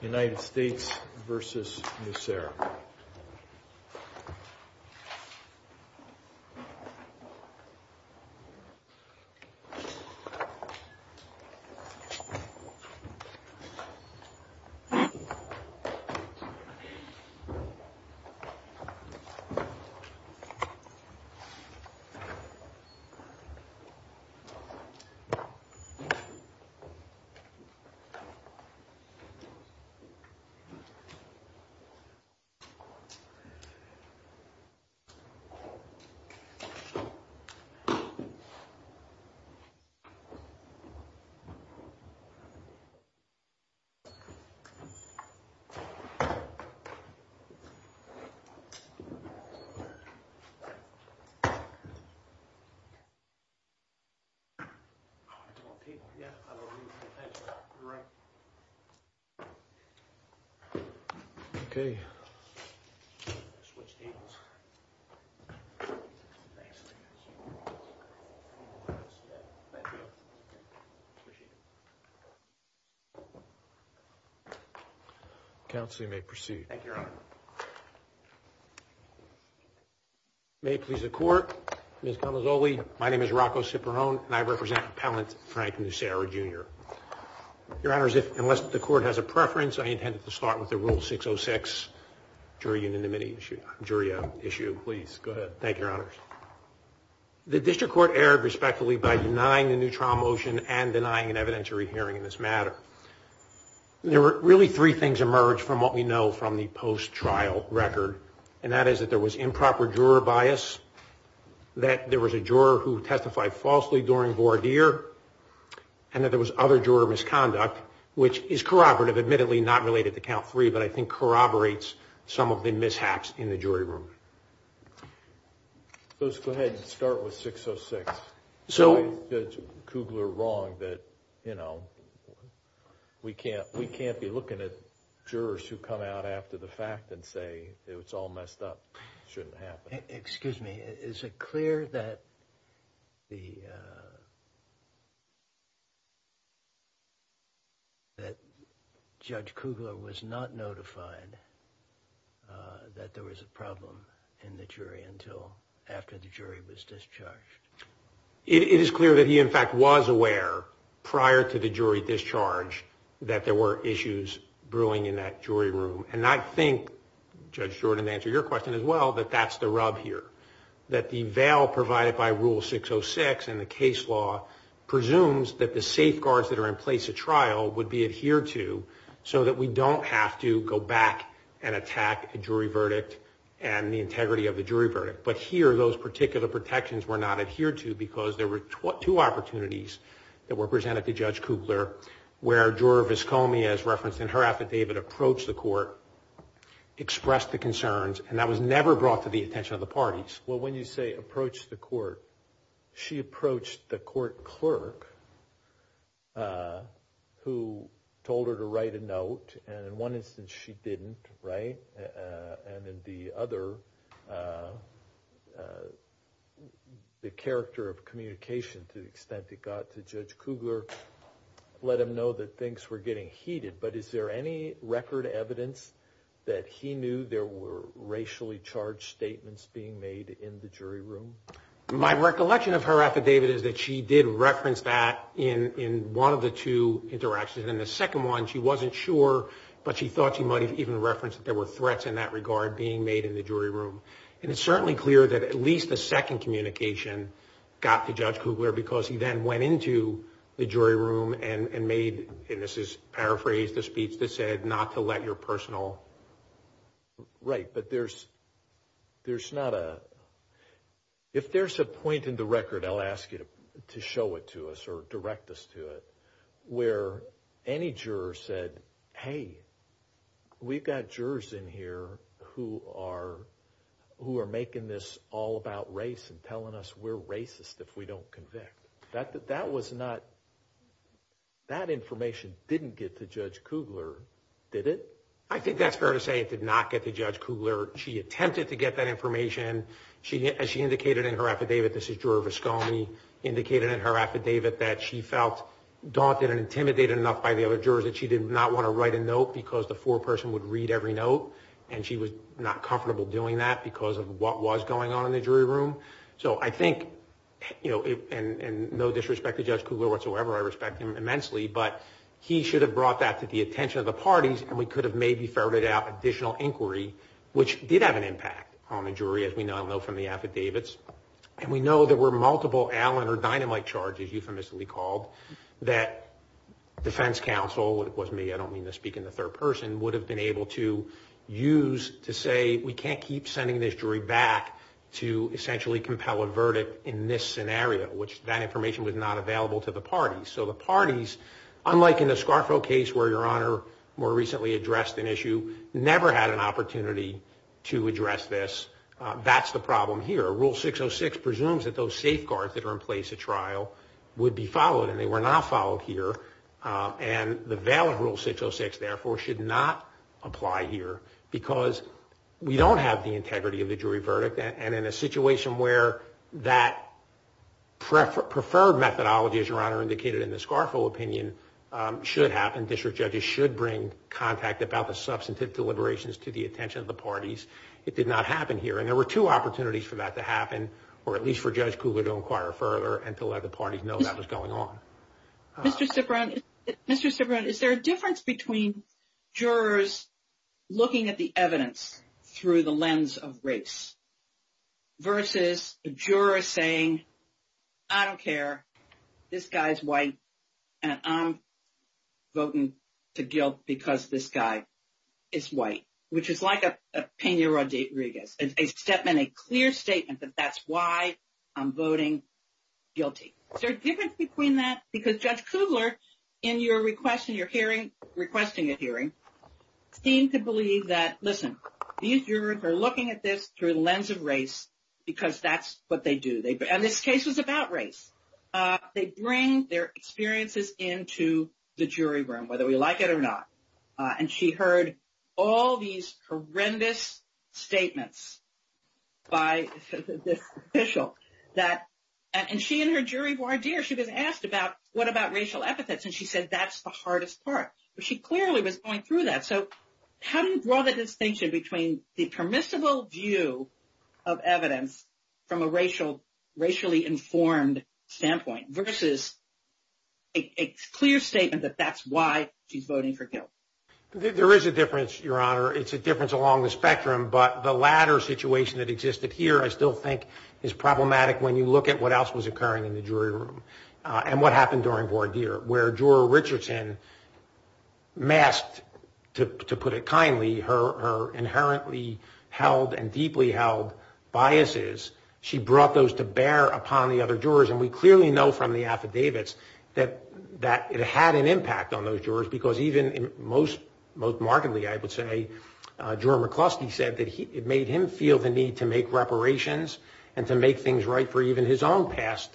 United States v. Nucera. Thank you. Okay. Switch tables. Thank you. Appreciate it. Council you may proceed. Thank you your honor. May it please the court, Ms. Calazzoli, my name is Rocco Ciperone and I represent appellant Frank Nucera Jr. Your honors, unless the court has a preference, I intend to start with the rule 606, jury unanimity issue, jury issue. Please go ahead. Thank you your honors. The district court erred respectfully by denying the new trial motion and denying an evidentiary hearing in this matter. There were really three things emerged from what we know from the post-trial record, and that is that there was improper juror bias, that there was a juror who testified falsely during voir dire, and that there was other juror misconduct, which is corroborative, admittedly not related to count three, but I think corroborates some of the mishaps in the jury room. Let's go ahead and start with 606. So is Judge Kugler wrong that, you know, we can't be looking at jurors who come out after the fact and say it's all messed up, shouldn't happen? Excuse me, is it clear that Judge Kugler was not notified that there was a problem in the jury until after the jury was discharged? It is clear that he, in fact, was aware prior to the jury discharge that there were issues brewing in that jury room, and I think, Judge Jordan, to answer your question as well, that that's the rub here, that the veil provided by Rule 606 in the case law presumes that the safeguards that are in place at trial would be adhered to so that we don't have to go back and attack a jury verdict and the integrity of the jury verdict, but here those particular protections were not adhered to because there were two opportunities that were presented to Judge Kugler where Juror Viscomi, as referenced in her affidavit, approached the court, expressed the concerns, and that was never brought to the attention of the parties. Well, when you say approached the court, she approached the court clerk who told her to write a note, and in one instance she didn't, right? And in the other, the character of communication to the extent it got to Judge Kugler let him know that things were getting heated, but is there any record evidence that he knew there were racially charged statements being made in the jury room? My recollection of her affidavit is that she did reference that in one of the two interactions, and in the second one she wasn't sure, but she thought she might have even referenced that there were threats in that regard being made in the jury room, and it's certainly clear that at least the second communication got to Judge Kugler because he then went into the jury room and made, and this is paraphrased, the speech that said not to let your personal... Right, but there's not a... I'll ask you to show it to us or direct us to it, where any juror said, hey, we've got jurors in here who are making this all about race and telling us we're racist if we don't convict. That was not, that information didn't get to Judge Kugler, did it? I think that's fair to say it did not get to Judge Kugler. She attempted to get that information. As she indicated in her affidavit, this is Juror Viscone, indicated in her affidavit that she felt daunted and intimidated enough by the other jurors that she did not want to write a note because the foreperson would read every note, and she was not comfortable doing that because of what was going on in the jury room. So I think, and no disrespect to Judge Kugler whatsoever, I respect him immensely, but he should have brought that to the attention of the parties and we could have maybe ferreted out additional inquiry, which did have an impact on the jury, as we now know from the affidavits. And we know there were multiple Allen or dynamite charges, euphemistically called, that defense counsel, and it wasn't me, I don't mean to speak in the third person, would have been able to use to say we can't keep sending this jury back to essentially compel a verdict in this scenario, which that information was not available to the parties. So the parties, unlike in the Scarfo case where Your Honor more recently addressed an issue, never had an opportunity to address this. That's the problem here. Rule 606 presumes that those safeguards that are in place at trial would be followed, and they were not followed here, and the veil of Rule 606, therefore, should not apply here because we don't have the integrity of the jury verdict, and in a situation where that preferred methodology, as Your Honor indicated in the Scarfo opinion, should happen, district judges should bring contact about the substantive deliberations to the attention of the parties. It did not happen here, and there were two opportunities for that to happen, or at least for Judge Kugler to inquire further and to let the parties know that was going on. Mr. Cipron, is there a difference between jurors looking at the evidence through the lens of race versus a juror saying, I don't care, this guy is white, and I'm voting to guilt because this guy is white, which is like a Pena Rodriguez, except in a clear statement that that's why I'm voting guilty. Is there a difference between that? Because Judge Kugler, in your request in your hearing, requesting a hearing, seemed to believe that, listen, these jurors are looking at this through the lens of race because that's what they do. And this case was about race. They bring their experiences into the jury room, whether we like it or not. And she heard all these horrendous statements by this official, and she and her jury voir dire, she was asked about what about racial epithets, and she said that's the hardest part. But she clearly was going through that. So how do you draw the distinction between the permissible view of evidence from a racially informed standpoint versus a clear statement that that's why she's voting for guilt? There is a difference, Your Honor. It's a difference along the spectrum. But the latter situation that existed here I still think is problematic when you look at what else was occurring in the jury room and what happened during voir dire, where Juror Richardson masked, to put it kindly, her inherently held and deeply held biases. She brought those to bear upon the other jurors, and we clearly know from the affidavits that it had an impact on those jurors because even most markedly, I would say, Juror McCluskey said that it made him feel the need to make reparations and to make things right for even his own past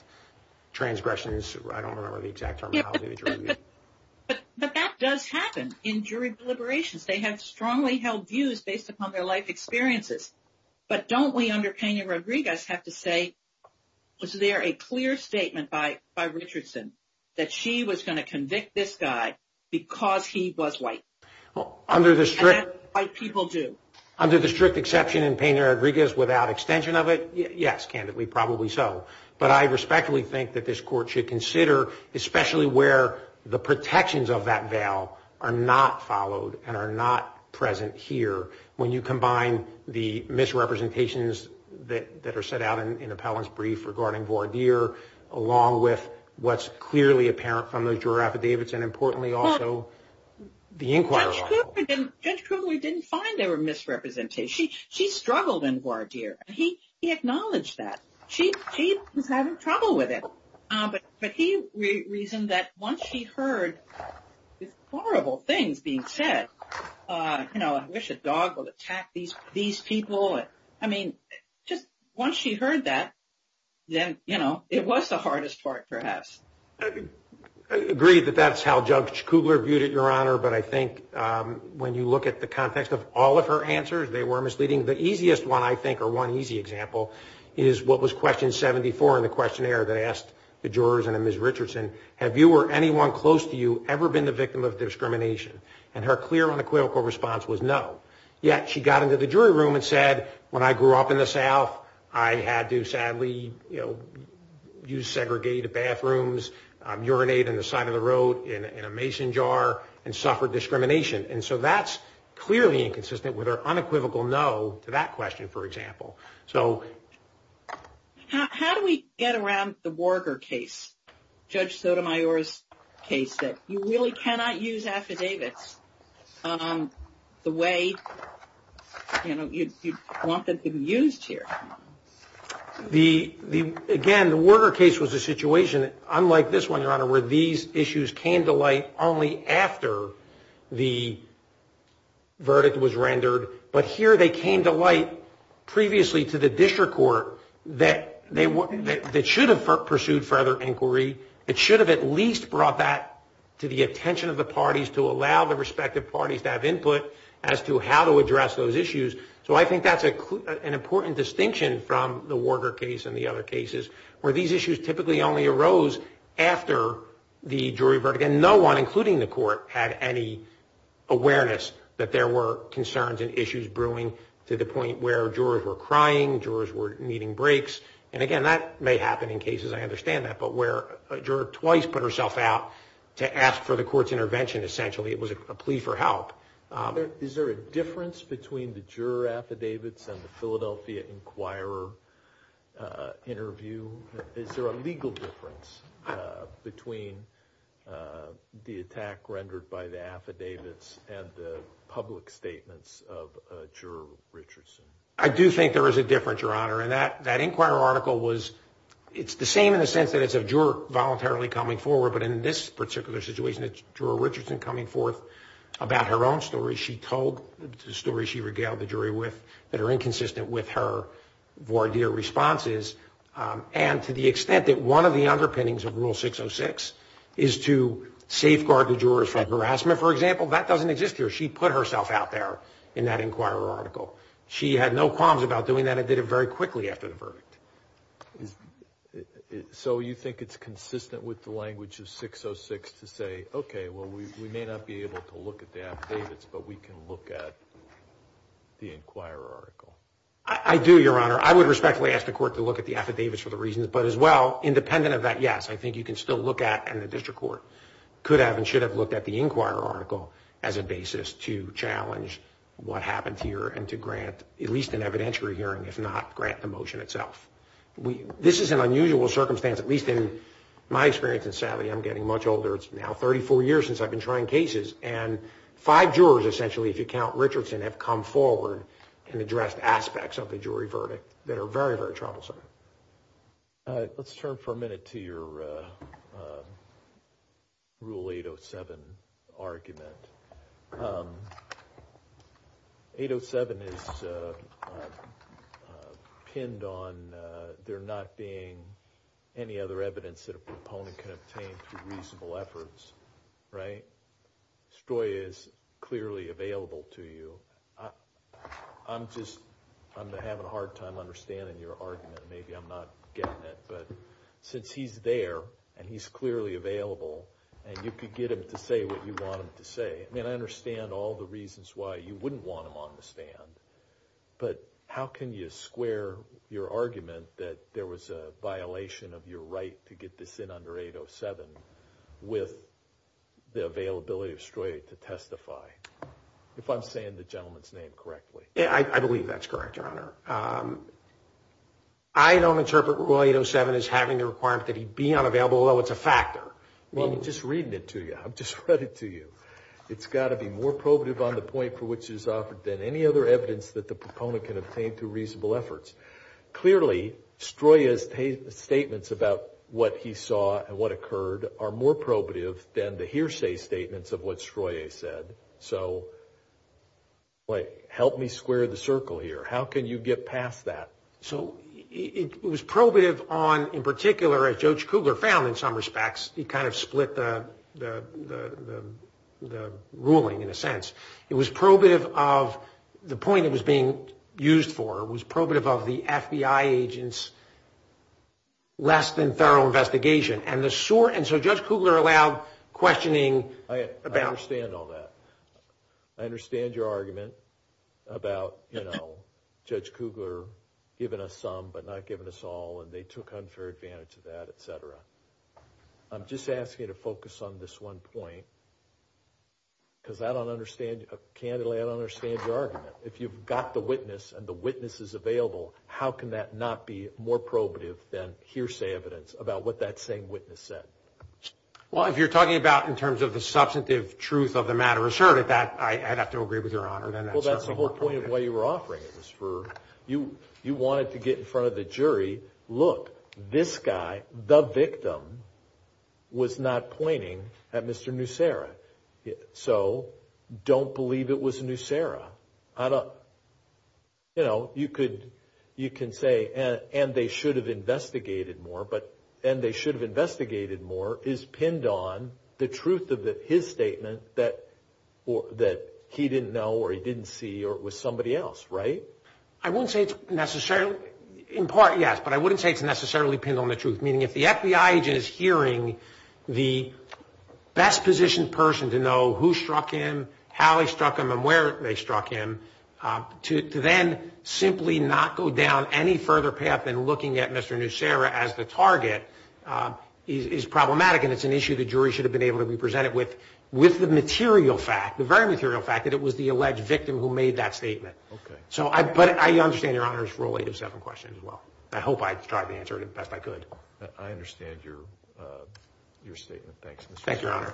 transgressions. I don't remember the exact terminology. But that does happen in jury deliberations. They have strongly held views based upon their life experiences. But don't we under Peña Rodriguez have to say, was there a clear statement by Richardson that she was going to convict this guy because he was white, and that white people do? Under the strict exception in Peña Rodriguez, without extension of it, yes, candidly, probably so. But I respectfully think that this Court should consider, especially where the protections of that veil are not followed and are not present here, when you combine the misrepresentations that are set out in Appellant's brief regarding voir dire, along with what's clearly apparent from those juror affidavits, and importantly also the inquiry. Judge Kugler didn't find there were misrepresentations. She struggled in voir dire. He acknowledged that. She was having trouble with it. But he reasoned that once she heard these horrible things being said, you know, I wish a dog would attack these people. I mean, just once she heard that, then, you know, it was the hardest part for us. I agree that that's how Judge Kugler viewed it, Your Honor. But I think when you look at the context of all of her answers, they were misleading. The easiest one, I think, or one easy example, is what was question 74 in the questionnaire that asked the jurors and Ms. Richardson, have you or anyone close to you ever been the victim of discrimination? And her clear, unequivocal response was no. Yet she got into the jury room and said, when I grew up in the South, I had to sadly, you know, use segregated bathrooms, urinate on the side of the road in a mason jar, and suffered discrimination. And so that's clearly inconsistent with her unequivocal no to that question, for example. So how do we get around the voir dire case, Judge Sotomayor's case, that you really cannot use affidavits? The way, you know, you want them to be used here. The, again, the voir dire case was a situation, unlike this one, Your Honor, where these issues came to light only after the verdict was rendered. But here they came to light previously to the district court that should have pursued further inquiry. It should have at least brought that to the attention of the parties to allow the respective parties to have input as to how to address those issues. So I think that's an important distinction from the voir dire case and the other cases, where these issues typically only arose after the jury verdict. And no one, including the court, had any awareness that there were concerns and issues brewing to the point where jurors were crying, jurors were needing breaks. And, again, that may happen in cases, I understand that, but where a juror twice put herself out to ask for the court's intervention, essentially it was a plea for help. Is there a difference between the juror affidavits and the Philadelphia Inquirer interview? Is there a legal difference between the attack rendered by the affidavits and the public statements of Juror Richardson? I do think there is a difference, Your Honor. And that Inquirer article was, it's the same in the sense that it's a juror voluntarily coming forward, but in this particular situation it's Juror Richardson coming forth about her own story. She told the story she regaled the jury with that are inconsistent with her voir dire responses. And to the extent that one of the underpinnings of Rule 606 is to safeguard the jurors from harassment, for example, that doesn't exist here. She put herself out there in that Inquirer article. She had no qualms about doing that and did it very quickly after the verdict. So you think it's consistent with the language of 606 to say, okay, well, we may not be able to look at the affidavits, but we can look at the Inquirer article? I do, Your Honor. I would respectfully ask the court to look at the affidavits for the reasons, but as well, independent of that, yes, I think you can still look at and the district court could have and should have looked at the Inquirer article as a basis to challenge what happened here and to grant at least an evidentiary hearing, if not grant the motion itself. This is an unusual circumstance, at least in my experience, and sadly I'm getting much older. It's now 34 years since I've been trying cases, and five jurors, essentially, if you count Richardson, have come forward and addressed aspects of the jury verdict that are very, very troublesome. Let's turn for a minute to your Rule 807 argument. 807 is pinned on there not being any other evidence that a proponent can obtain through reasonable efforts, right? Stroy is clearly available to you. I'm just having a hard time understanding your argument. Maybe I'm not getting it, but since he's there and he's clearly available and you could get him to say what you want him to say, I mean, I understand all the reasons why you wouldn't want him on the stand, but how can you square your argument that there was a violation of your right to get this in under 807 with the availability of Stroy to testify, if I'm saying the gentleman's name correctly? I believe that's correct, Your Honor. I don't interpret Rule 807 as having a requirement that he be unavailable, although it's a factor. I'm just reading it to you. I've just read it to you. It's got to be more probative on the point for which it is offered than any other evidence that the proponent can obtain through reasonable efforts. Clearly, Stroy's statements about what he saw and what occurred are more probative than the hearsay statements of what Stroy said. So help me square the circle here. How can you get past that? So it was probative on, in particular, as Judge Cougar found in some respects, he kind of split the ruling in a sense. It was probative of the point it was being used for. It was probative of the FBI agent's less than thorough investigation. And so Judge Cougar allowed questioning about... I understand all that. I understand your argument about, you know, Judge Cougar giving us some but not giving us all, and they took unfair advantage of that, et cetera. I'm just asking you to focus on this one point, because I don't understand, candidly, I don't understand your argument. If you've got the witness and the witness is available, how can that not be more probative than hearsay evidence about what that same witness said? Well, if you're talking about in terms of the substantive truth of the matter asserted, I'd have to agree with Your Honor that that's certainly more probative. Well, that's the whole point of what you were offering. You wanted to get in front of the jury, look, this guy, the victim, was not pointing at Mr. Nussera. So don't believe it was Nussera. You know, you could say, and they should have investigated more, but and they should have investigated more is pinned on the truth of his statement that he didn't know or he didn't see or it was somebody else, right? I wouldn't say it's necessarily, in part, yes, but I wouldn't say it's necessarily pinned on the truth, meaning if the FBI agent is hearing the best positioned person to know who struck him, how he struck him, and where they struck him, to then simply not go down any further path than looking at Mr. Nussera as the target is problematic, and it's an issue the jury should have been able to represent it with, with the material fact, the very material fact that it was the alleged victim who made that statement. Okay. But I understand Your Honor's Rule 8 of 7 questions as well. I hope I tried to answer it the best I could. I understand your statement. Thanks. Thank you, Your Honor.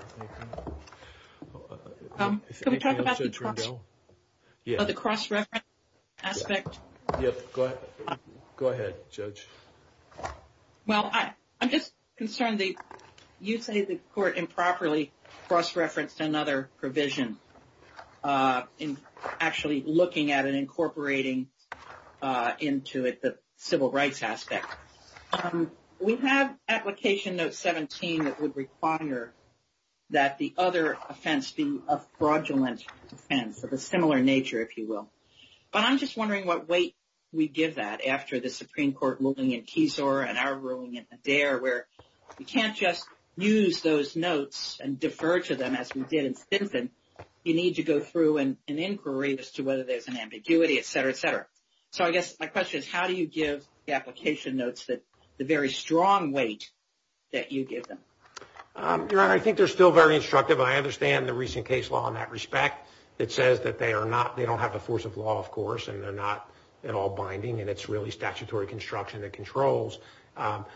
Can we talk about the cross reference aspect? Go ahead, Judge. Well, I'm just concerned that you say the court improperly cross referenced another provision in actually looking at and incorporating into it the civil rights aspect. We have Application Note 17 that would require that the other offense be a fraudulent offense of a similar nature, if you will. But I'm just wondering what weight we give that after the Supreme Court ruling in Keysore and our ruling in Adair where you can't just use those notes and defer to them as we did in Stinson. You need to go through an inquiry as to whether there's an ambiguity, et cetera, et cetera. So I guess my question is how do you give the application notes the very strong weight that you give them? Your Honor, I think they're still very instructive. I understand the recent case law in that respect that says that they don't have the force of law, of course, and they're not at all binding, and it's really statutory construction that controls.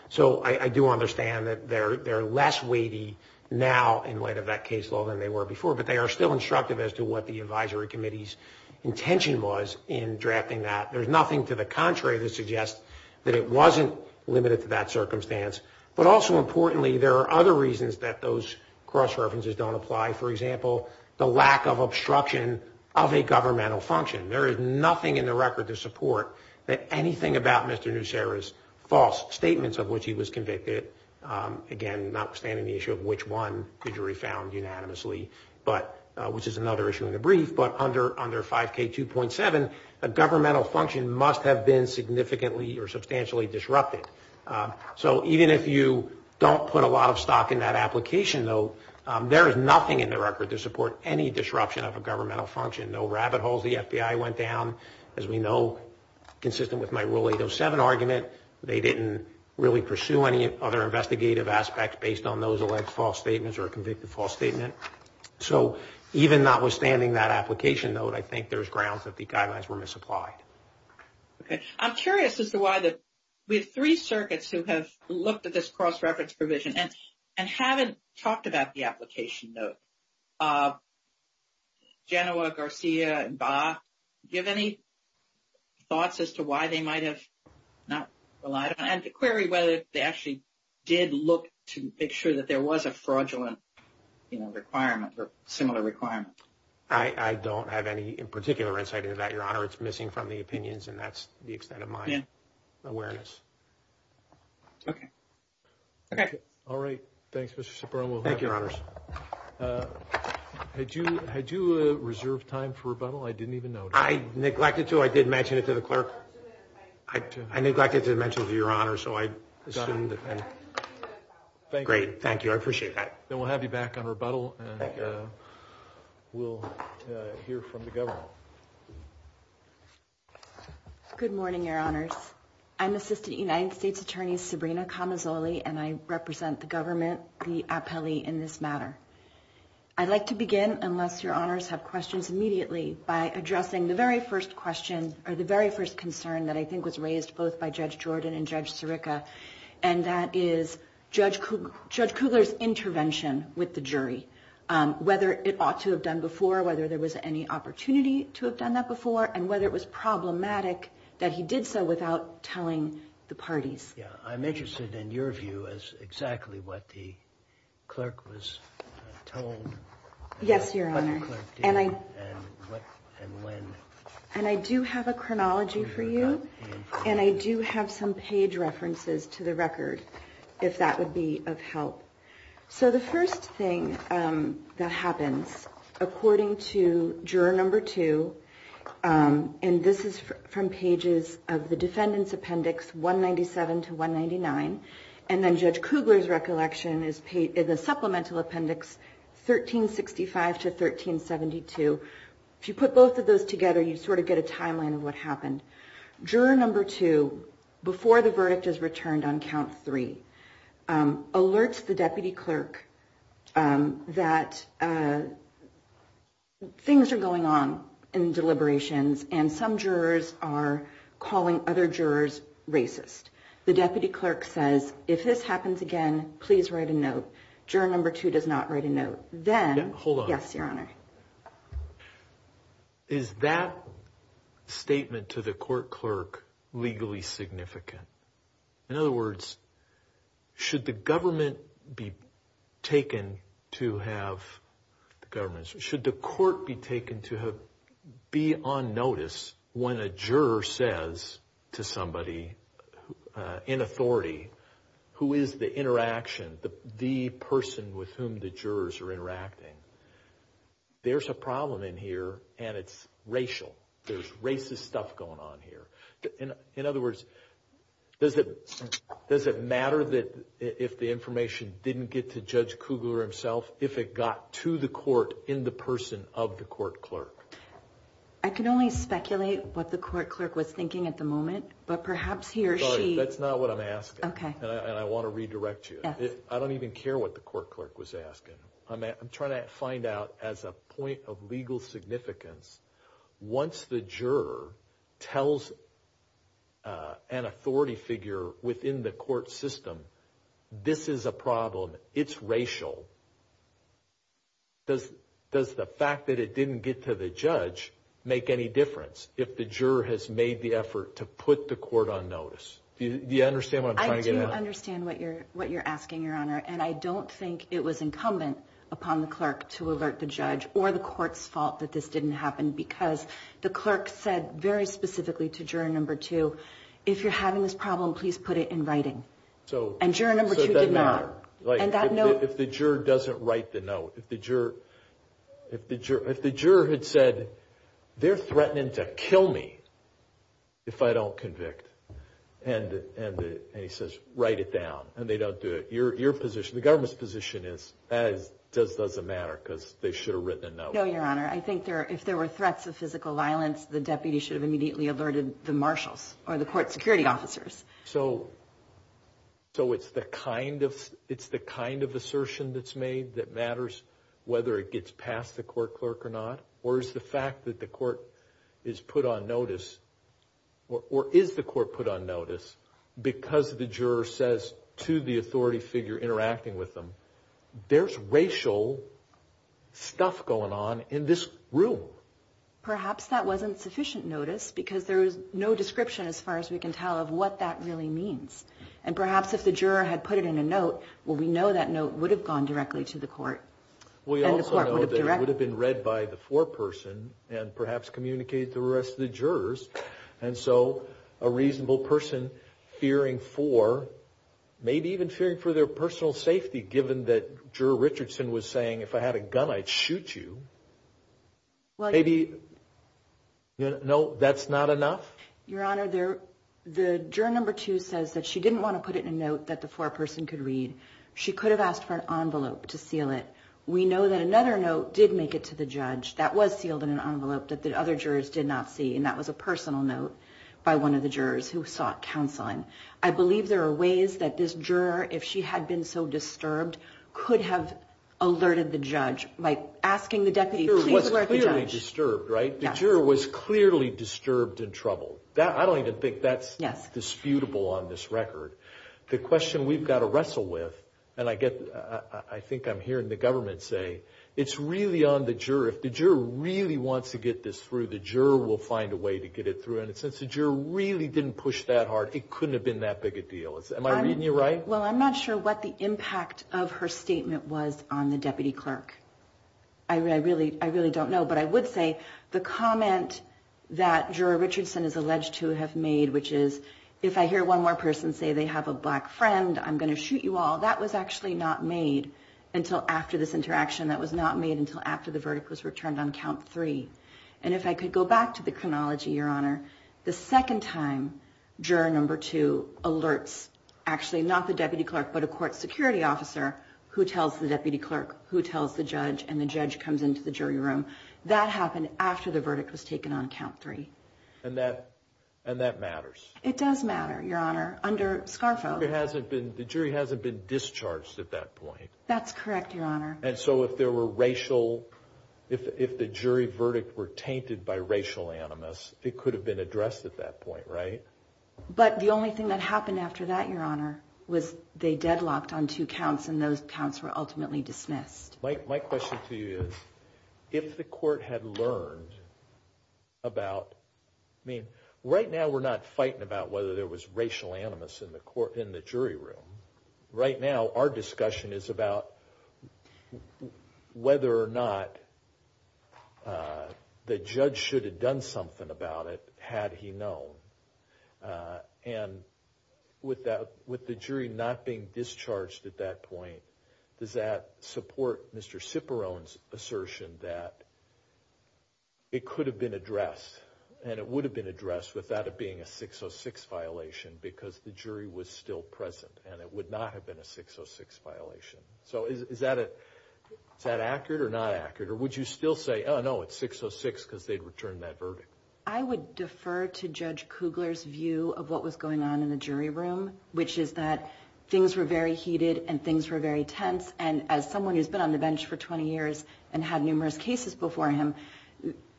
So I do understand that they're less weighty now in light of that case law than they were before, but they are still instructive as to what the advisory committee's intention was in drafting that. There's nothing to the contrary that suggests that it wasn't limited to that circumstance. But also importantly, there are other reasons that those cross-references don't apply. For example, the lack of obstruction of a governmental function. There is nothing in the record to support that anything about Mr. Nussera's false statements of which he was convicted, again, notwithstanding the issue of which one the jury found unanimously, which is another issue in the brief, but under 5K2.7, a governmental function must have been significantly or substantially disrupted. So even if you don't put a lot of stock in that application, though, there is nothing in the record to support any disruption of a governmental function. No rabbit holes. The FBI went down, as we know, consistent with my Rule 807 argument. They didn't really pursue any other investigative aspects based on those alleged false statements or a convicted false statement. So even notwithstanding that application, though, I think there's grounds that the guidelines were misapplied. Okay. I'm curious as to why we have three circuits who have looked at this cross-reference provision and haven't talked about the application, though. Genoa, Garcia, and Barr, do you have any thoughts as to why they might have not relied on it and to query whether they actually did look to make sure that there was a fraudulent requirement or similar requirement? I don't have any particular insight into that, Your Honor. It's missing from the opinions, and that's the extent of my awareness. Okay. All right. Thanks, Mr. Cipriano. Thank you, Your Honors. Had you reserved time for rebuttal? I didn't even notice. I neglected to. I did mention it to the clerk. I neglected to mention it to Your Honor, so I assumed. Great. Thank you. I appreciate that. Then we'll have you back on rebuttal, and we'll hear from the government. Good morning, Your Honors. I'm Assistant United States Attorney Sabrina Camazoli, and I represent the government, the appellee, in this matter. I'd like to begin, unless Your Honors have questions, immediately by addressing the very first question or the very first concern that I think was raised both by Judge Jordan and Judge Sirica, and that is Judge Kugler's intervention with the jury, whether it ought to have done before, whether there was any opportunity to have done that before, and whether it was problematic that he did so without telling the parties. Yeah. I'm interested in your view as exactly what the clerk was told. Yes, Your Honor. What the clerk did and when. And I do have a chronology for you, and I do have some page references to the record, if that would be of help. So the first thing that happens, according to Juror No. 2, and this is from pages of the Defendant's Appendix 197 to 199, and then Judge Kugler's recollection is the Supplemental Appendix 1365 to 1372. If you put both of those together, you sort of get a timeline of what happened. Juror No. 2, before the verdict is returned on Count 3, alerts the deputy clerk that things are going on in deliberations and some jurors are calling other jurors racist. The deputy clerk says, if this happens again, please write a note. Juror No. 2 does not write a note. Hold on. Yes, Your Honor. Is that statement to the court clerk legally significant? In other words, should the government be taken to have the government, should the court be taken to be on notice when a juror says to somebody in authority, who is the interaction, the person with whom the jurors are interacting, there's a problem in here and it's racial. There's racist stuff going on here. In other words, does it matter that if the information didn't get to Judge Kugler himself, if it got to the court in the person of the court clerk? I can only speculate what the court clerk was thinking at the moment, but perhaps he or she. That's not what I'm asking, and I want to redirect you. I don't even care what the court clerk was asking. I'm trying to find out as a point of legal significance, once the juror tells an authority figure within the court system, this is a problem, it's racial, does the fact that it didn't get to the judge make any difference if the juror has made the effort to put the court on notice? Do you understand what I'm trying to get at? I do understand what you're asking, Your Honor, and I don't think it was incumbent upon the clerk to alert the judge or the court's fault that this didn't happen, because the clerk said very specifically to juror number two, if you're having this problem, please put it in writing. And juror number two did not. If the juror doesn't write the note, if the juror had said, they're threatening to kill me if I don't convict, and he says, write it down, and they don't do it, your position, the government's position is, that doesn't matter because they should have written a note. No, Your Honor, I think if there were threats of physical violence, the deputy should have immediately alerted the marshals or the court security officers. So it's the kind of assertion that's made that matters, whether it gets past the court clerk or not, or is the fact that the court is put on notice, or is the court put on notice because the juror says to the authority figure interacting with them, there's racial stuff going on in this room. Perhaps that wasn't sufficient notice, because there was no description as far as we can tell of what that really means. And perhaps if the juror had put it in a note, well, we know that note would have gone directly to the court. And the court would have directed it. We also know that it would have been read by the foreperson and perhaps communicated to the rest of the jurors. And so a reasonable person fearing for, maybe even fearing for their personal safety, given that Juror Richardson was saying, if I had a gun, I'd shoot you. Maybe, no, that's not enough? Your Honor, the juror number two says that she didn't want to put it in a note that the foreperson could read. She could have asked for an envelope to seal it. We know that another note did make it to the judge. That was sealed in an envelope that the other jurors did not see, and that was a personal note by one of the jurors who sought counseling. I believe there are ways that this juror, if she had been so disturbed, could have alerted the judge by asking the deputy, please alert the judge. The juror was clearly disturbed, right? The juror was clearly disturbed and troubled. I don't even think that's disputable on this record. The question we've got to wrestle with, and I think I'm hearing the government say, it's really on the juror. If the juror really wants to get this through, the juror will find a way to get it through. And since the juror really didn't push that hard, it couldn't have been that big a deal. Am I reading you right? Well, I'm not sure what the impact of her statement was on the deputy clerk. I really don't know. But I would say the comment that Juror Richardson is alleged to have made, which is, if I hear one more person say they have a black friend, I'm going to shoot you all, that was actually not made until after this interaction. That was not made until after the verdict was returned on count three. The second time, Juror No. 2 alerts, actually not the deputy clerk, but a court security officer who tells the deputy clerk who tells the judge, and the judge comes into the jury room. That happened after the verdict was taken on count three. And that matters. It does matter, Your Honor, under Scarfo. The jury hasn't been discharged at that point. That's correct, Your Honor. And so if the jury verdict were tainted by racial animus, it could have been addressed at that point, right? But the only thing that happened after that, Your Honor, was they deadlocked on two counts, and those counts were ultimately dismissed. My question to you is, if the court had learned about, I mean, right now we're not fighting about whether there was racial animus in the jury room. Right now, our discussion is about whether or not the judge should have done something about it, had he known. And with the jury not being discharged at that point, does that support Mr. Ciperone's assertion that it could have been addressed, and it would have been addressed without it being a 606 violation, because the jury was still present, and it would not have been a 606 violation? So is that accurate or not accurate? Or would you still say, oh, no, it's 606 because they'd returned that verdict? I would defer to Judge Kugler's view of what was going on in the jury room, which is that things were very heated, and things were very tense. And as someone who's been on the bench for 20 years and had numerous cases before him,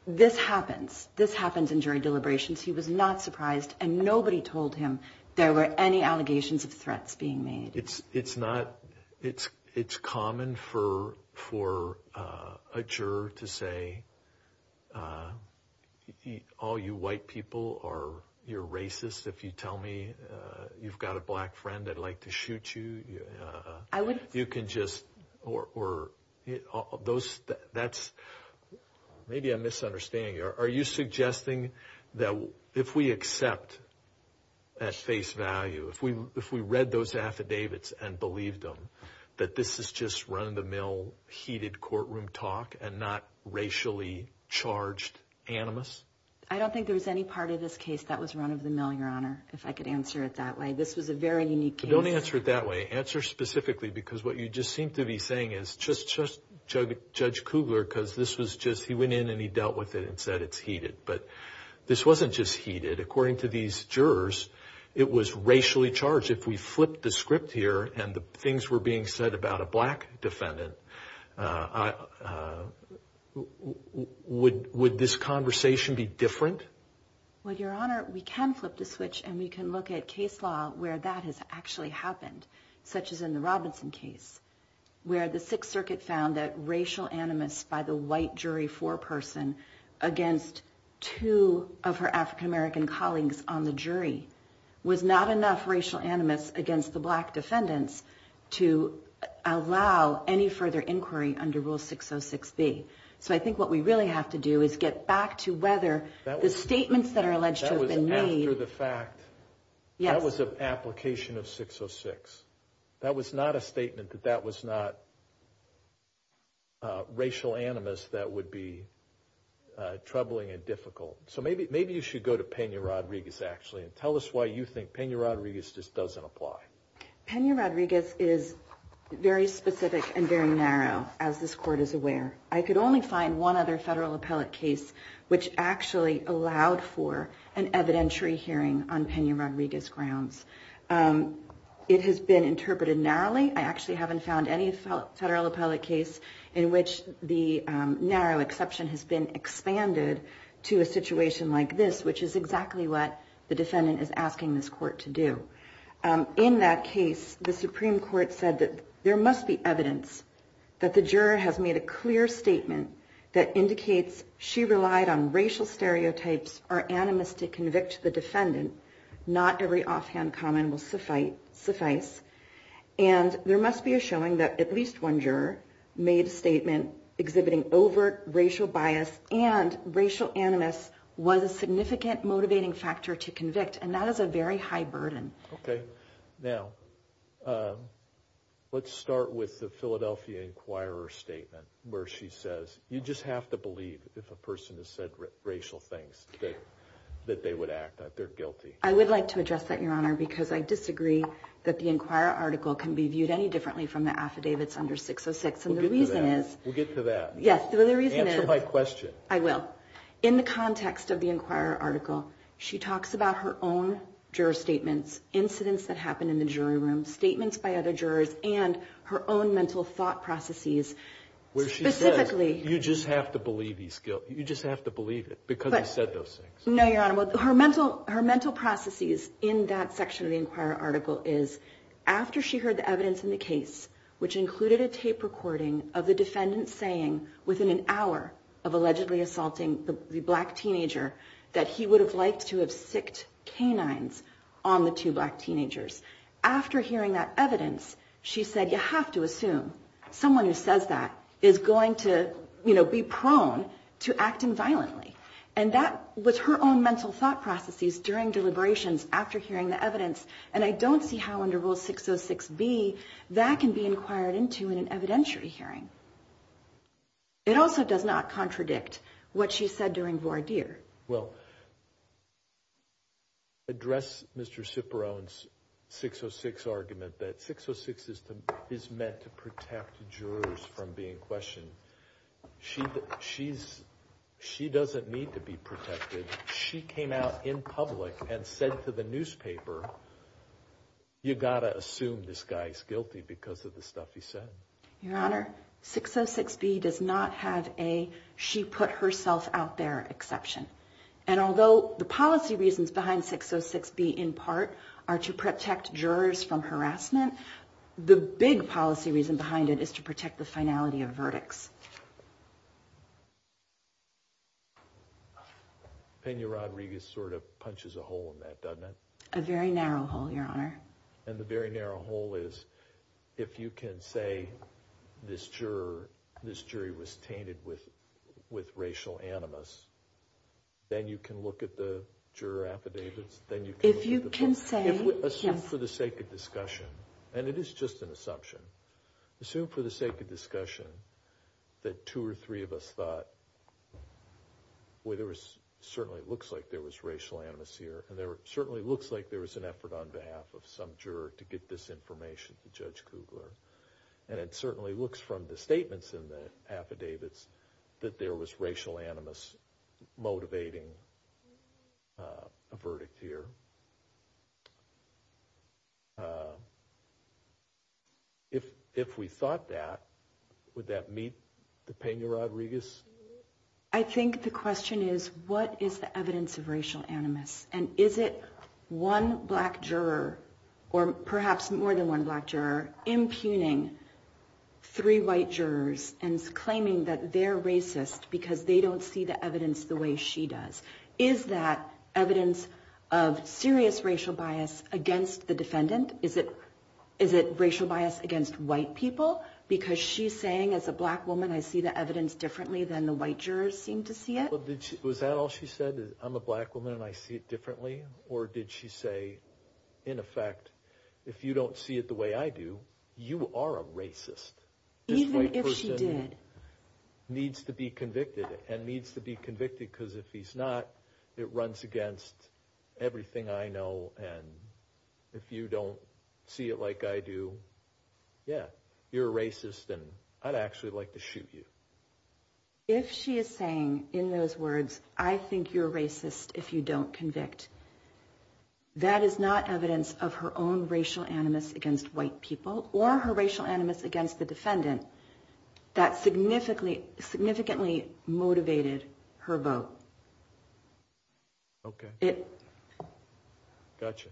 this happens. This happens in jury deliberations. He was not surprised, and nobody told him there were any allegations of threats being made. It's common for a juror to say, all you white people, or you're racist, if you tell me you've got a black friend that'd like to shoot you. You can just, or those, that's, maybe I'm misunderstanding you. Are you suggesting that if we accept at face value, if we read those affidavits and believed them, that this is just run-of-the-mill heated courtroom talk and not racially charged animus? I don't think there was any part of this case that was run-of-the-mill, Your Honor, if I could answer it that way. This was a very unique case. Don't answer it that way. Answer specifically, because what you just seem to be saying is, Judge Kugler, because this was just, he went in and he dealt with it and said it's heated. But this wasn't just heated. According to these jurors, it was racially charged. If we flip the script here and the things were being said about a black defendant, would this conversation be different? Well, Your Honor, we can flip the switch and we can look at case law where that has actually happened, such as in the Robinson case, where the Sixth Circuit found that racial animus by the white jury foreperson against two of her African-American colleagues on the jury was not enough racial animus against the black defendants to allow any further inquiry under Rule 606B. So I think what we really have to do is get back to whether the statements that are alleged to have been made. So those are the facts. That was an application of 606. That was not a statement that that was not racial animus that would be troubling and difficult. So maybe you should go to Pena-Rodriguez, actually, and tell us why you think Pena-Rodriguez just doesn't apply. Pena-Rodriguez is very specific and very narrow, as this Court is aware. I could only find one other federal appellate case which actually allowed for an evidentiary hearing on Pena-Rodriguez grounds. It has been interpreted narrowly. I actually haven't found any federal appellate case in which the narrow exception has been expanded to a situation like this, which is exactly what the defendant is asking this Court to do. In that case, the Supreme Court said that there must be evidence that the juror has made a clear statement that indicates she relied on racial stereotypes or animus to convict the defendant. Not every offhand comment will suffice. And there must be a showing that at least one juror made a statement exhibiting overt racial bias and racial animus was a significant motivating factor to convict. And that is a very high burden. Okay. Now, let's start with the Philadelphia Inquirer's statement where she says, you just have to believe if a person has said racial things that they would act, that they're guilty. I would like to address that, Your Honor, because I disagree that the Inquirer article can be viewed any differently from the affidavits under 606. We'll get to that. We'll get to that. Yes. Answer my question. I will. In the context of the Inquirer article, she talks about her own juror statements, incidents that happened in the jury room, statements by other jurors, and her own mental thought processes. Where she says, you just have to believe he's guilty. You just have to believe it because he said those things. No, Your Honor. Her mental processes in that section of the Inquirer article is after she heard the evidence in the case, which included a tape recording of the defendant saying, within an hour of allegedly assaulting the black teenager, that he would have liked to have sicced canines on the two black teenagers. After hearing that evidence, she said, you have to assume someone who says that is going to, you know, be prone to acting violently. And that was her own mental thought processes during deliberations after hearing the evidence. And I don't see how under Rule 606B that can be inquired into in an evidentiary hearing. It also does not contradict what she said during voir dire. Well, address Mr. Ciperon's 606 argument that 606 is meant to protect jurors from being questioned. She doesn't need to be protected. She came out in public and said to the newspaper, you've got to assume this guy's guilty because of the stuff he said. Your Honor, 606B does not have a she put herself out there exception. And although the policy reasons behind 606B in part are to protect jurors from harassment, the big policy reason behind it is to protect the finality of verdicts. Pena Rodriguez sort of punches a hole in that, doesn't it? A very narrow hole, Your Honor. And the very narrow hole is if you can say this juror, this jury was tainted with racial animus, then you can look at the juror affidavits. Assume for the sake of discussion, and it is just an assumption, assume for the sake of discussion that two or three of us thought, well, it certainly looks like there was racial animus here, and it certainly looks like there was an effort on behalf of some juror to get this information to Judge Kugler. And it certainly looks from the statements in the affidavits that there was racial animus motivating a verdict here. If we thought that, would that meet the Pena Rodriguez? I think the question is, what is the evidence of racial animus? And is it one black juror, or perhaps more than one black juror, impugning three white jurors and claiming that they're racist because they don't see the evidence the way she does? Is that evidence of serious racial bias against the defendant? Is it racial bias against white people? Because she's saying, as a black woman, I see the evidence differently than the white jurors seem to see it? Was that all she said? I'm a black woman, and I see it differently? Or did she say, in effect, if you don't see it the way I do, you are a racist? Even if she did. This white person needs to be convicted, and needs to be convicted because if he's not, it runs against everything I know. And if you don't see it like I do, yeah, you're a racist, and I'd actually like to shoot you. If she is saying, in those words, I think you're racist if you don't convict, that is not evidence of her own racial animus against white people, or her racial animus against the defendant that significantly motivated her vote. Okay. Gotcha.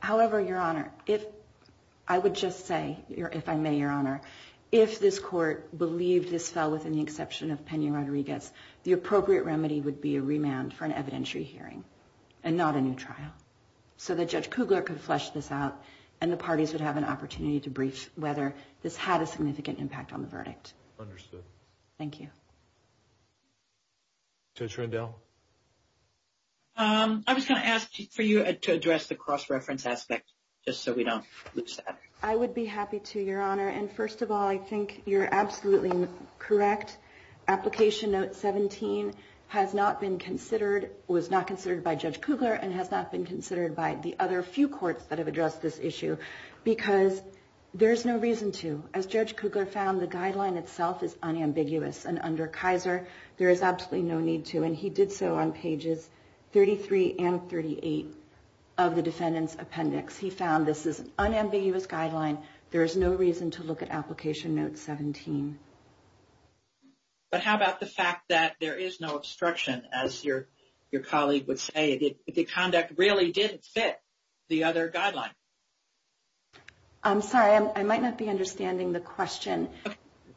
However, Your Honor, I would just say, if I may, Your Honor, if this Court believed this fell within the exception of Pena-Rodriguez, the appropriate remedy would be a remand for an evidentiary hearing, and not a new trial, so that Judge Kugler could flesh this out, and the parties would have an opportunity to brief whether this had a significant impact on the verdict. Understood. Thank you. Judge Rendell? I was going to ask for you to address the cross-reference aspect, just so we don't lose that. I would be happy to, Your Honor, and first of all, I think you're absolutely correct. Application Note 17 has not been considered, was not considered by Judge Kugler, and has not been considered by the other few courts that have addressed this issue, because there is no reason to. As Judge Kugler found, the guideline itself is unambiguous, and under Kaiser there is absolutely no need to, and he did so on pages 33 and 38 of the defendant's appendix. He found this is an unambiguous guideline. There is no reason to look at Application Note 17. But how about the fact that there is no obstruction, as your colleague would say, that the conduct really didn't fit the other guideline? I'm sorry. I might not be understanding the question.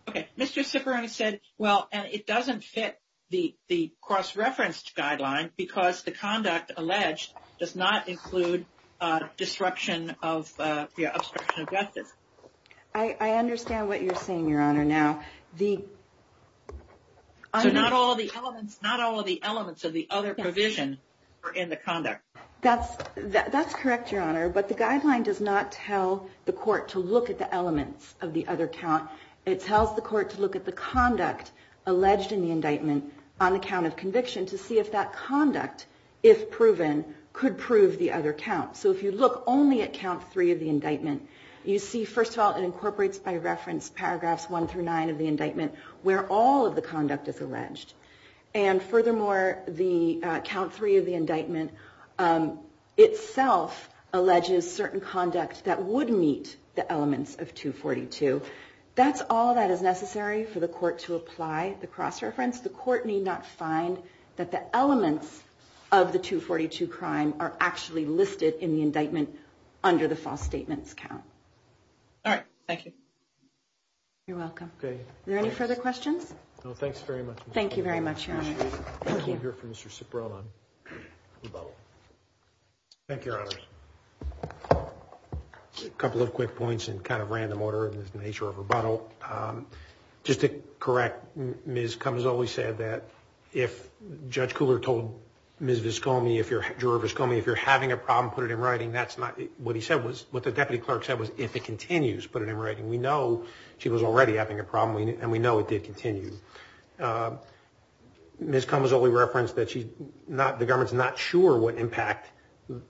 Okay. Mr. Ciccarone said, well, it doesn't fit the cross-referenced guideline, because the conduct alleged does not include obstruction of justice. I understand what you're saying, Your Honor, now. So not all of the elements of the other provision are in the conduct. That's correct, Your Honor, but the guideline does not tell the court to look at the elements of the other count. It tells the court to look at the conduct alleged in the indictment on the count of conviction to see if that conduct, if proven, could prove the other count. So if you look only at count 3 of the indictment, you see, first of all, it incorporates by reference paragraphs 1 through 9 of the indictment where all of the conduct is alleged. And furthermore, count 3 of the indictment itself alleges certain conduct that would meet the elements of 242. That's all that is necessary for the court to apply the cross-reference. The court need not find that the elements of the 242 crime are actually listed in the indictment under the false statements count. All right. Thank you. You're welcome. Okay. Are there any further questions? No, thanks very much. Thank you very much, Your Honor. Thank you. We'll hear from Mr. Cipriano on rebuttal. Thank you, Your Honor. A couple of quick points in kind of random order in the nature of rebuttal. Just to correct, Ms. Comisole said that if Judge Cooler told Ms. Viscomi, if you're having a problem, put it in writing, that's not what he said. What the deputy clerk said was if it continues, put it in writing. We know she was already having a problem, and we know it did continue. Ms. Comisole referenced that the government's not sure what impact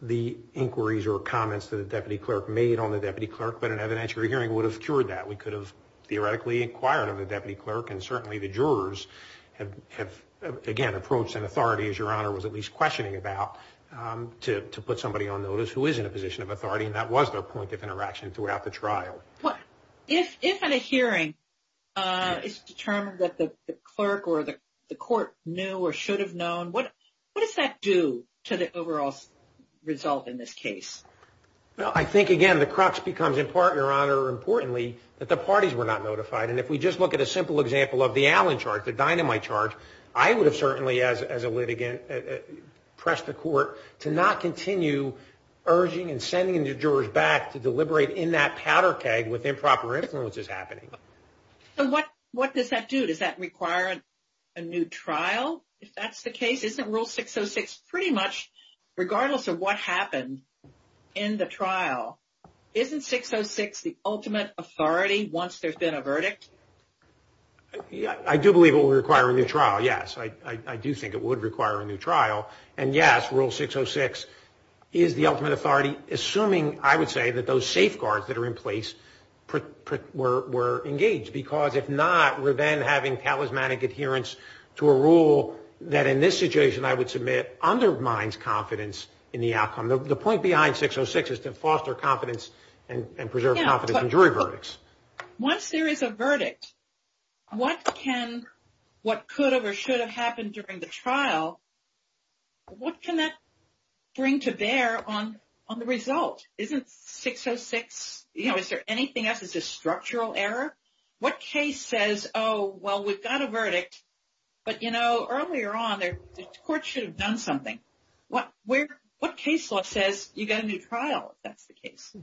the inquiries or comments that the deputy clerk made on the deputy clerk, but an evidentiary hearing would have cured that. We could have theoretically inquired of the deputy clerk, and certainly the jurors have, again, approached an authority, as Your Honor was at least questioning about, to put somebody on notice who is in a position of authority, and that was their point of interaction throughout the trial. If at a hearing it's determined that the clerk or the court knew or should have known, what does that do to the overall result in this case? Well, I think, again, the crux becomes, in part, Your Honor, importantly, that the parties were not notified. And if we just look at a simple example of the Allen charge, the dynamite charge, I would have certainly, as a litigant, pressed the court to not continue urging and sending the jurors back to deliberate in that powder keg with improper influences happening. So what does that do? Does that require a new trial, if that's the case? Isn't Rule 606 pretty much, regardless of what happened in the trial, isn't 606 the ultimate authority once there's been a verdict? I do believe it will require a new trial, yes. I do think it would require a new trial. And, yes, Rule 606 is the ultimate authority, assuming, I would say, that those safeguards that are in place were engaged. Because if not, we're then having talismanic adherence to a rule that, in this situation, I would submit undermines confidence in the outcome. The point behind 606 is to foster confidence and preserve confidence in jury verdicts. Once there is a verdict, what can, what could have or should have happened during the trial, what can that bring to bear on the result? Isn't 606, you know, is there anything else? Is this structural error? What case says, oh, well, we've got a verdict, but, you know, earlier on the court should have done something. What case law says you've got a new trial if that's the case?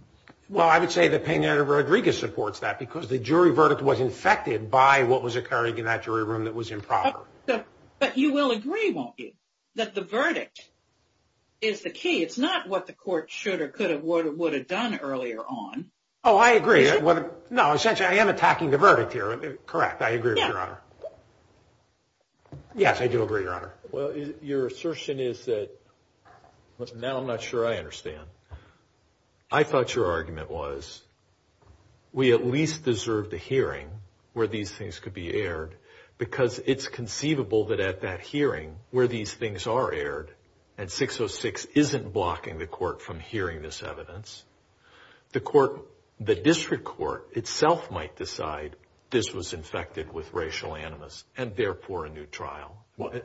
Well, I would say that Pena Rodriguez supports that, because the jury verdict was infected by what was occurring in that jury room that was improper. But you will agree, won't you, that the verdict is the key? It's not what the court should or could have or would have done earlier on. Oh, I agree. No, essentially, I am attacking the verdict here. Correct. I agree with Your Honor. Yes, I do agree, Your Honor. Well, your assertion is that, now I'm not sure I understand. I thought your argument was we at least deserve the hearing where these things could be aired, because it's conceivable that at that hearing where these things are aired and 606 isn't blocking the court from hearing this evidence, the court, the district court itself might decide this was infected with racial animus and therefore a new trial.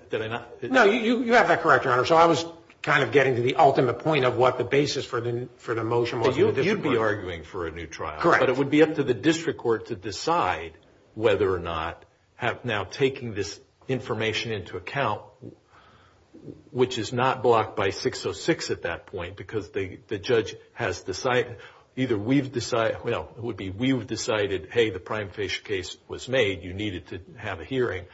Did I not? No, you have that correct, Your Honor. So I was kind of getting to the ultimate point of what the basis for the motion was. You'd be arguing for a new trial. Correct. But it would be up to the district court to decide whether or not, now taking this information into account, which is not blocked by 606 at that point, because the judge has decided, either we've decided, well, it would be we've decided, hey, the prime facial case was made, you needed to have a hearing.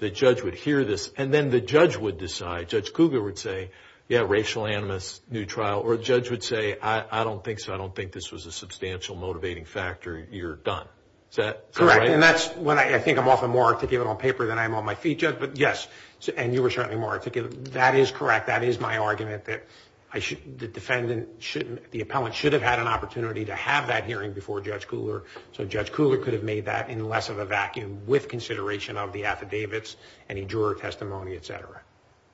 The judge would hear this, and then the judge would decide. Judge Cougar would say, yeah, racial animus, new trial. Or the judge would say, I don't think so. I don't think this was a substantial motivating factor. You're done. Is that right? Correct. And that's when I think I'm often more articulate on paper than I am on my feet, Judge. But, yes, and you were certainly more articulate. That is correct. That is my argument that the defendant shouldn't, the appellant should have had an opportunity to have that hearing before Judge Cougar, so Judge Cougar could have made that in less of a vacuum with consideration of the affidavits, any juror testimony, et cetera.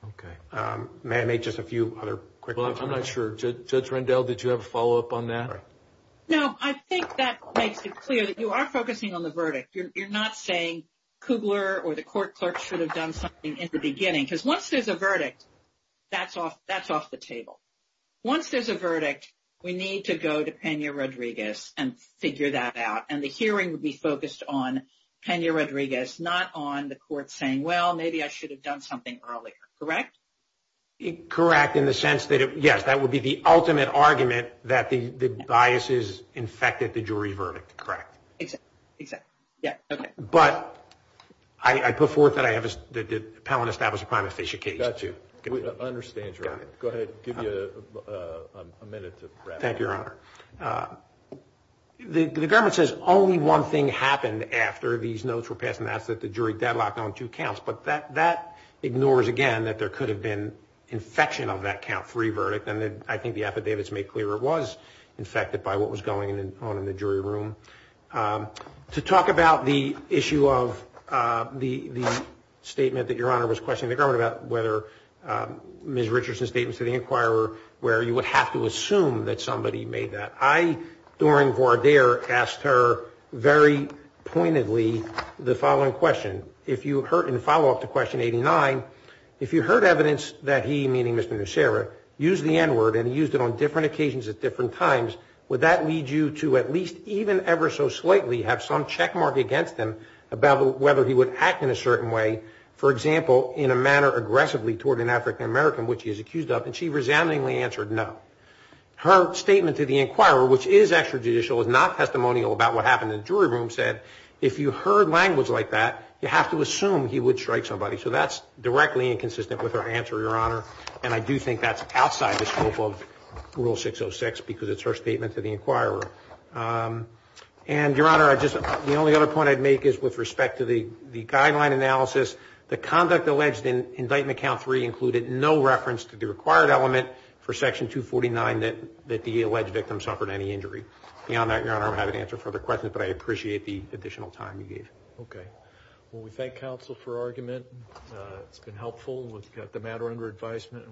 Okay. May I make just a few other quick comments? Well, I'm not sure. Judge Rendell, did you have a follow-up on that? No. I think that makes it clear that you are focusing on the verdict. You're not saying Cougar or the court clerk should have done something in the beginning, because once there's a verdict, that's off the table. Once there's a verdict, we need to go to Pena-Rodriguez and figure that out, and the hearing would be focused on Pena-Rodriguez, not on the court saying, well, maybe I should have done something earlier. Correct? Correct, in the sense that, yes, that would be the ultimate argument that the biases infected the jury verdict. Correct. Exactly. Yeah. Okay. But I put forth that I have the appellant establish a prima facie case, too. Got you. I understand, Judge Rendell. Go ahead. Give you a minute to wrap up. Thank you, Your Honor. The government says only one thing happened after these notes were passed, and that's that the jury deadlocked on two counts. But that ignores, again, that there could have been infection of that count three verdict, and I think the affidavits make clear it was infected by what was going on in the jury room. To talk about the issue of the statement that Your Honor was questioning the government about, whether Ms. Richardson's statement to the inquirer, where you would have to assume that somebody made that. I, during voir dire, asked her very pointedly the following question. If you heard in follow-up to question 89, if you heard evidence that he, meaning Mr. Nussera, used the N-word and he used it on different occasions at different times, would that lead you to at least even ever so slightly have some checkmark against him about whether he would act in a certain way, for example, in a manner aggressively toward an African-American which he is accused of? And she resoundingly answered no. Her statement to the inquirer, which is extrajudicial, is not testimonial about what happened in the jury room, said if you heard language like that, you have to assume he would strike somebody. So that's directly inconsistent with her answer, Your Honor, and I do think that's outside the scope of Rule 606 because it's her statement to the inquirer. And, Your Honor, the only other point I'd make is with respect to the guideline analysis, the conduct alleged in indictment count three included no reference to the required element for section 249 that the alleged victim suffered any injury. Beyond that, Your Honor, I don't have an answer for the question, but I appreciate the additional time you gave. Okay. Well, we thank counsel for argument. It's been helpful. We've got the matter under advisement.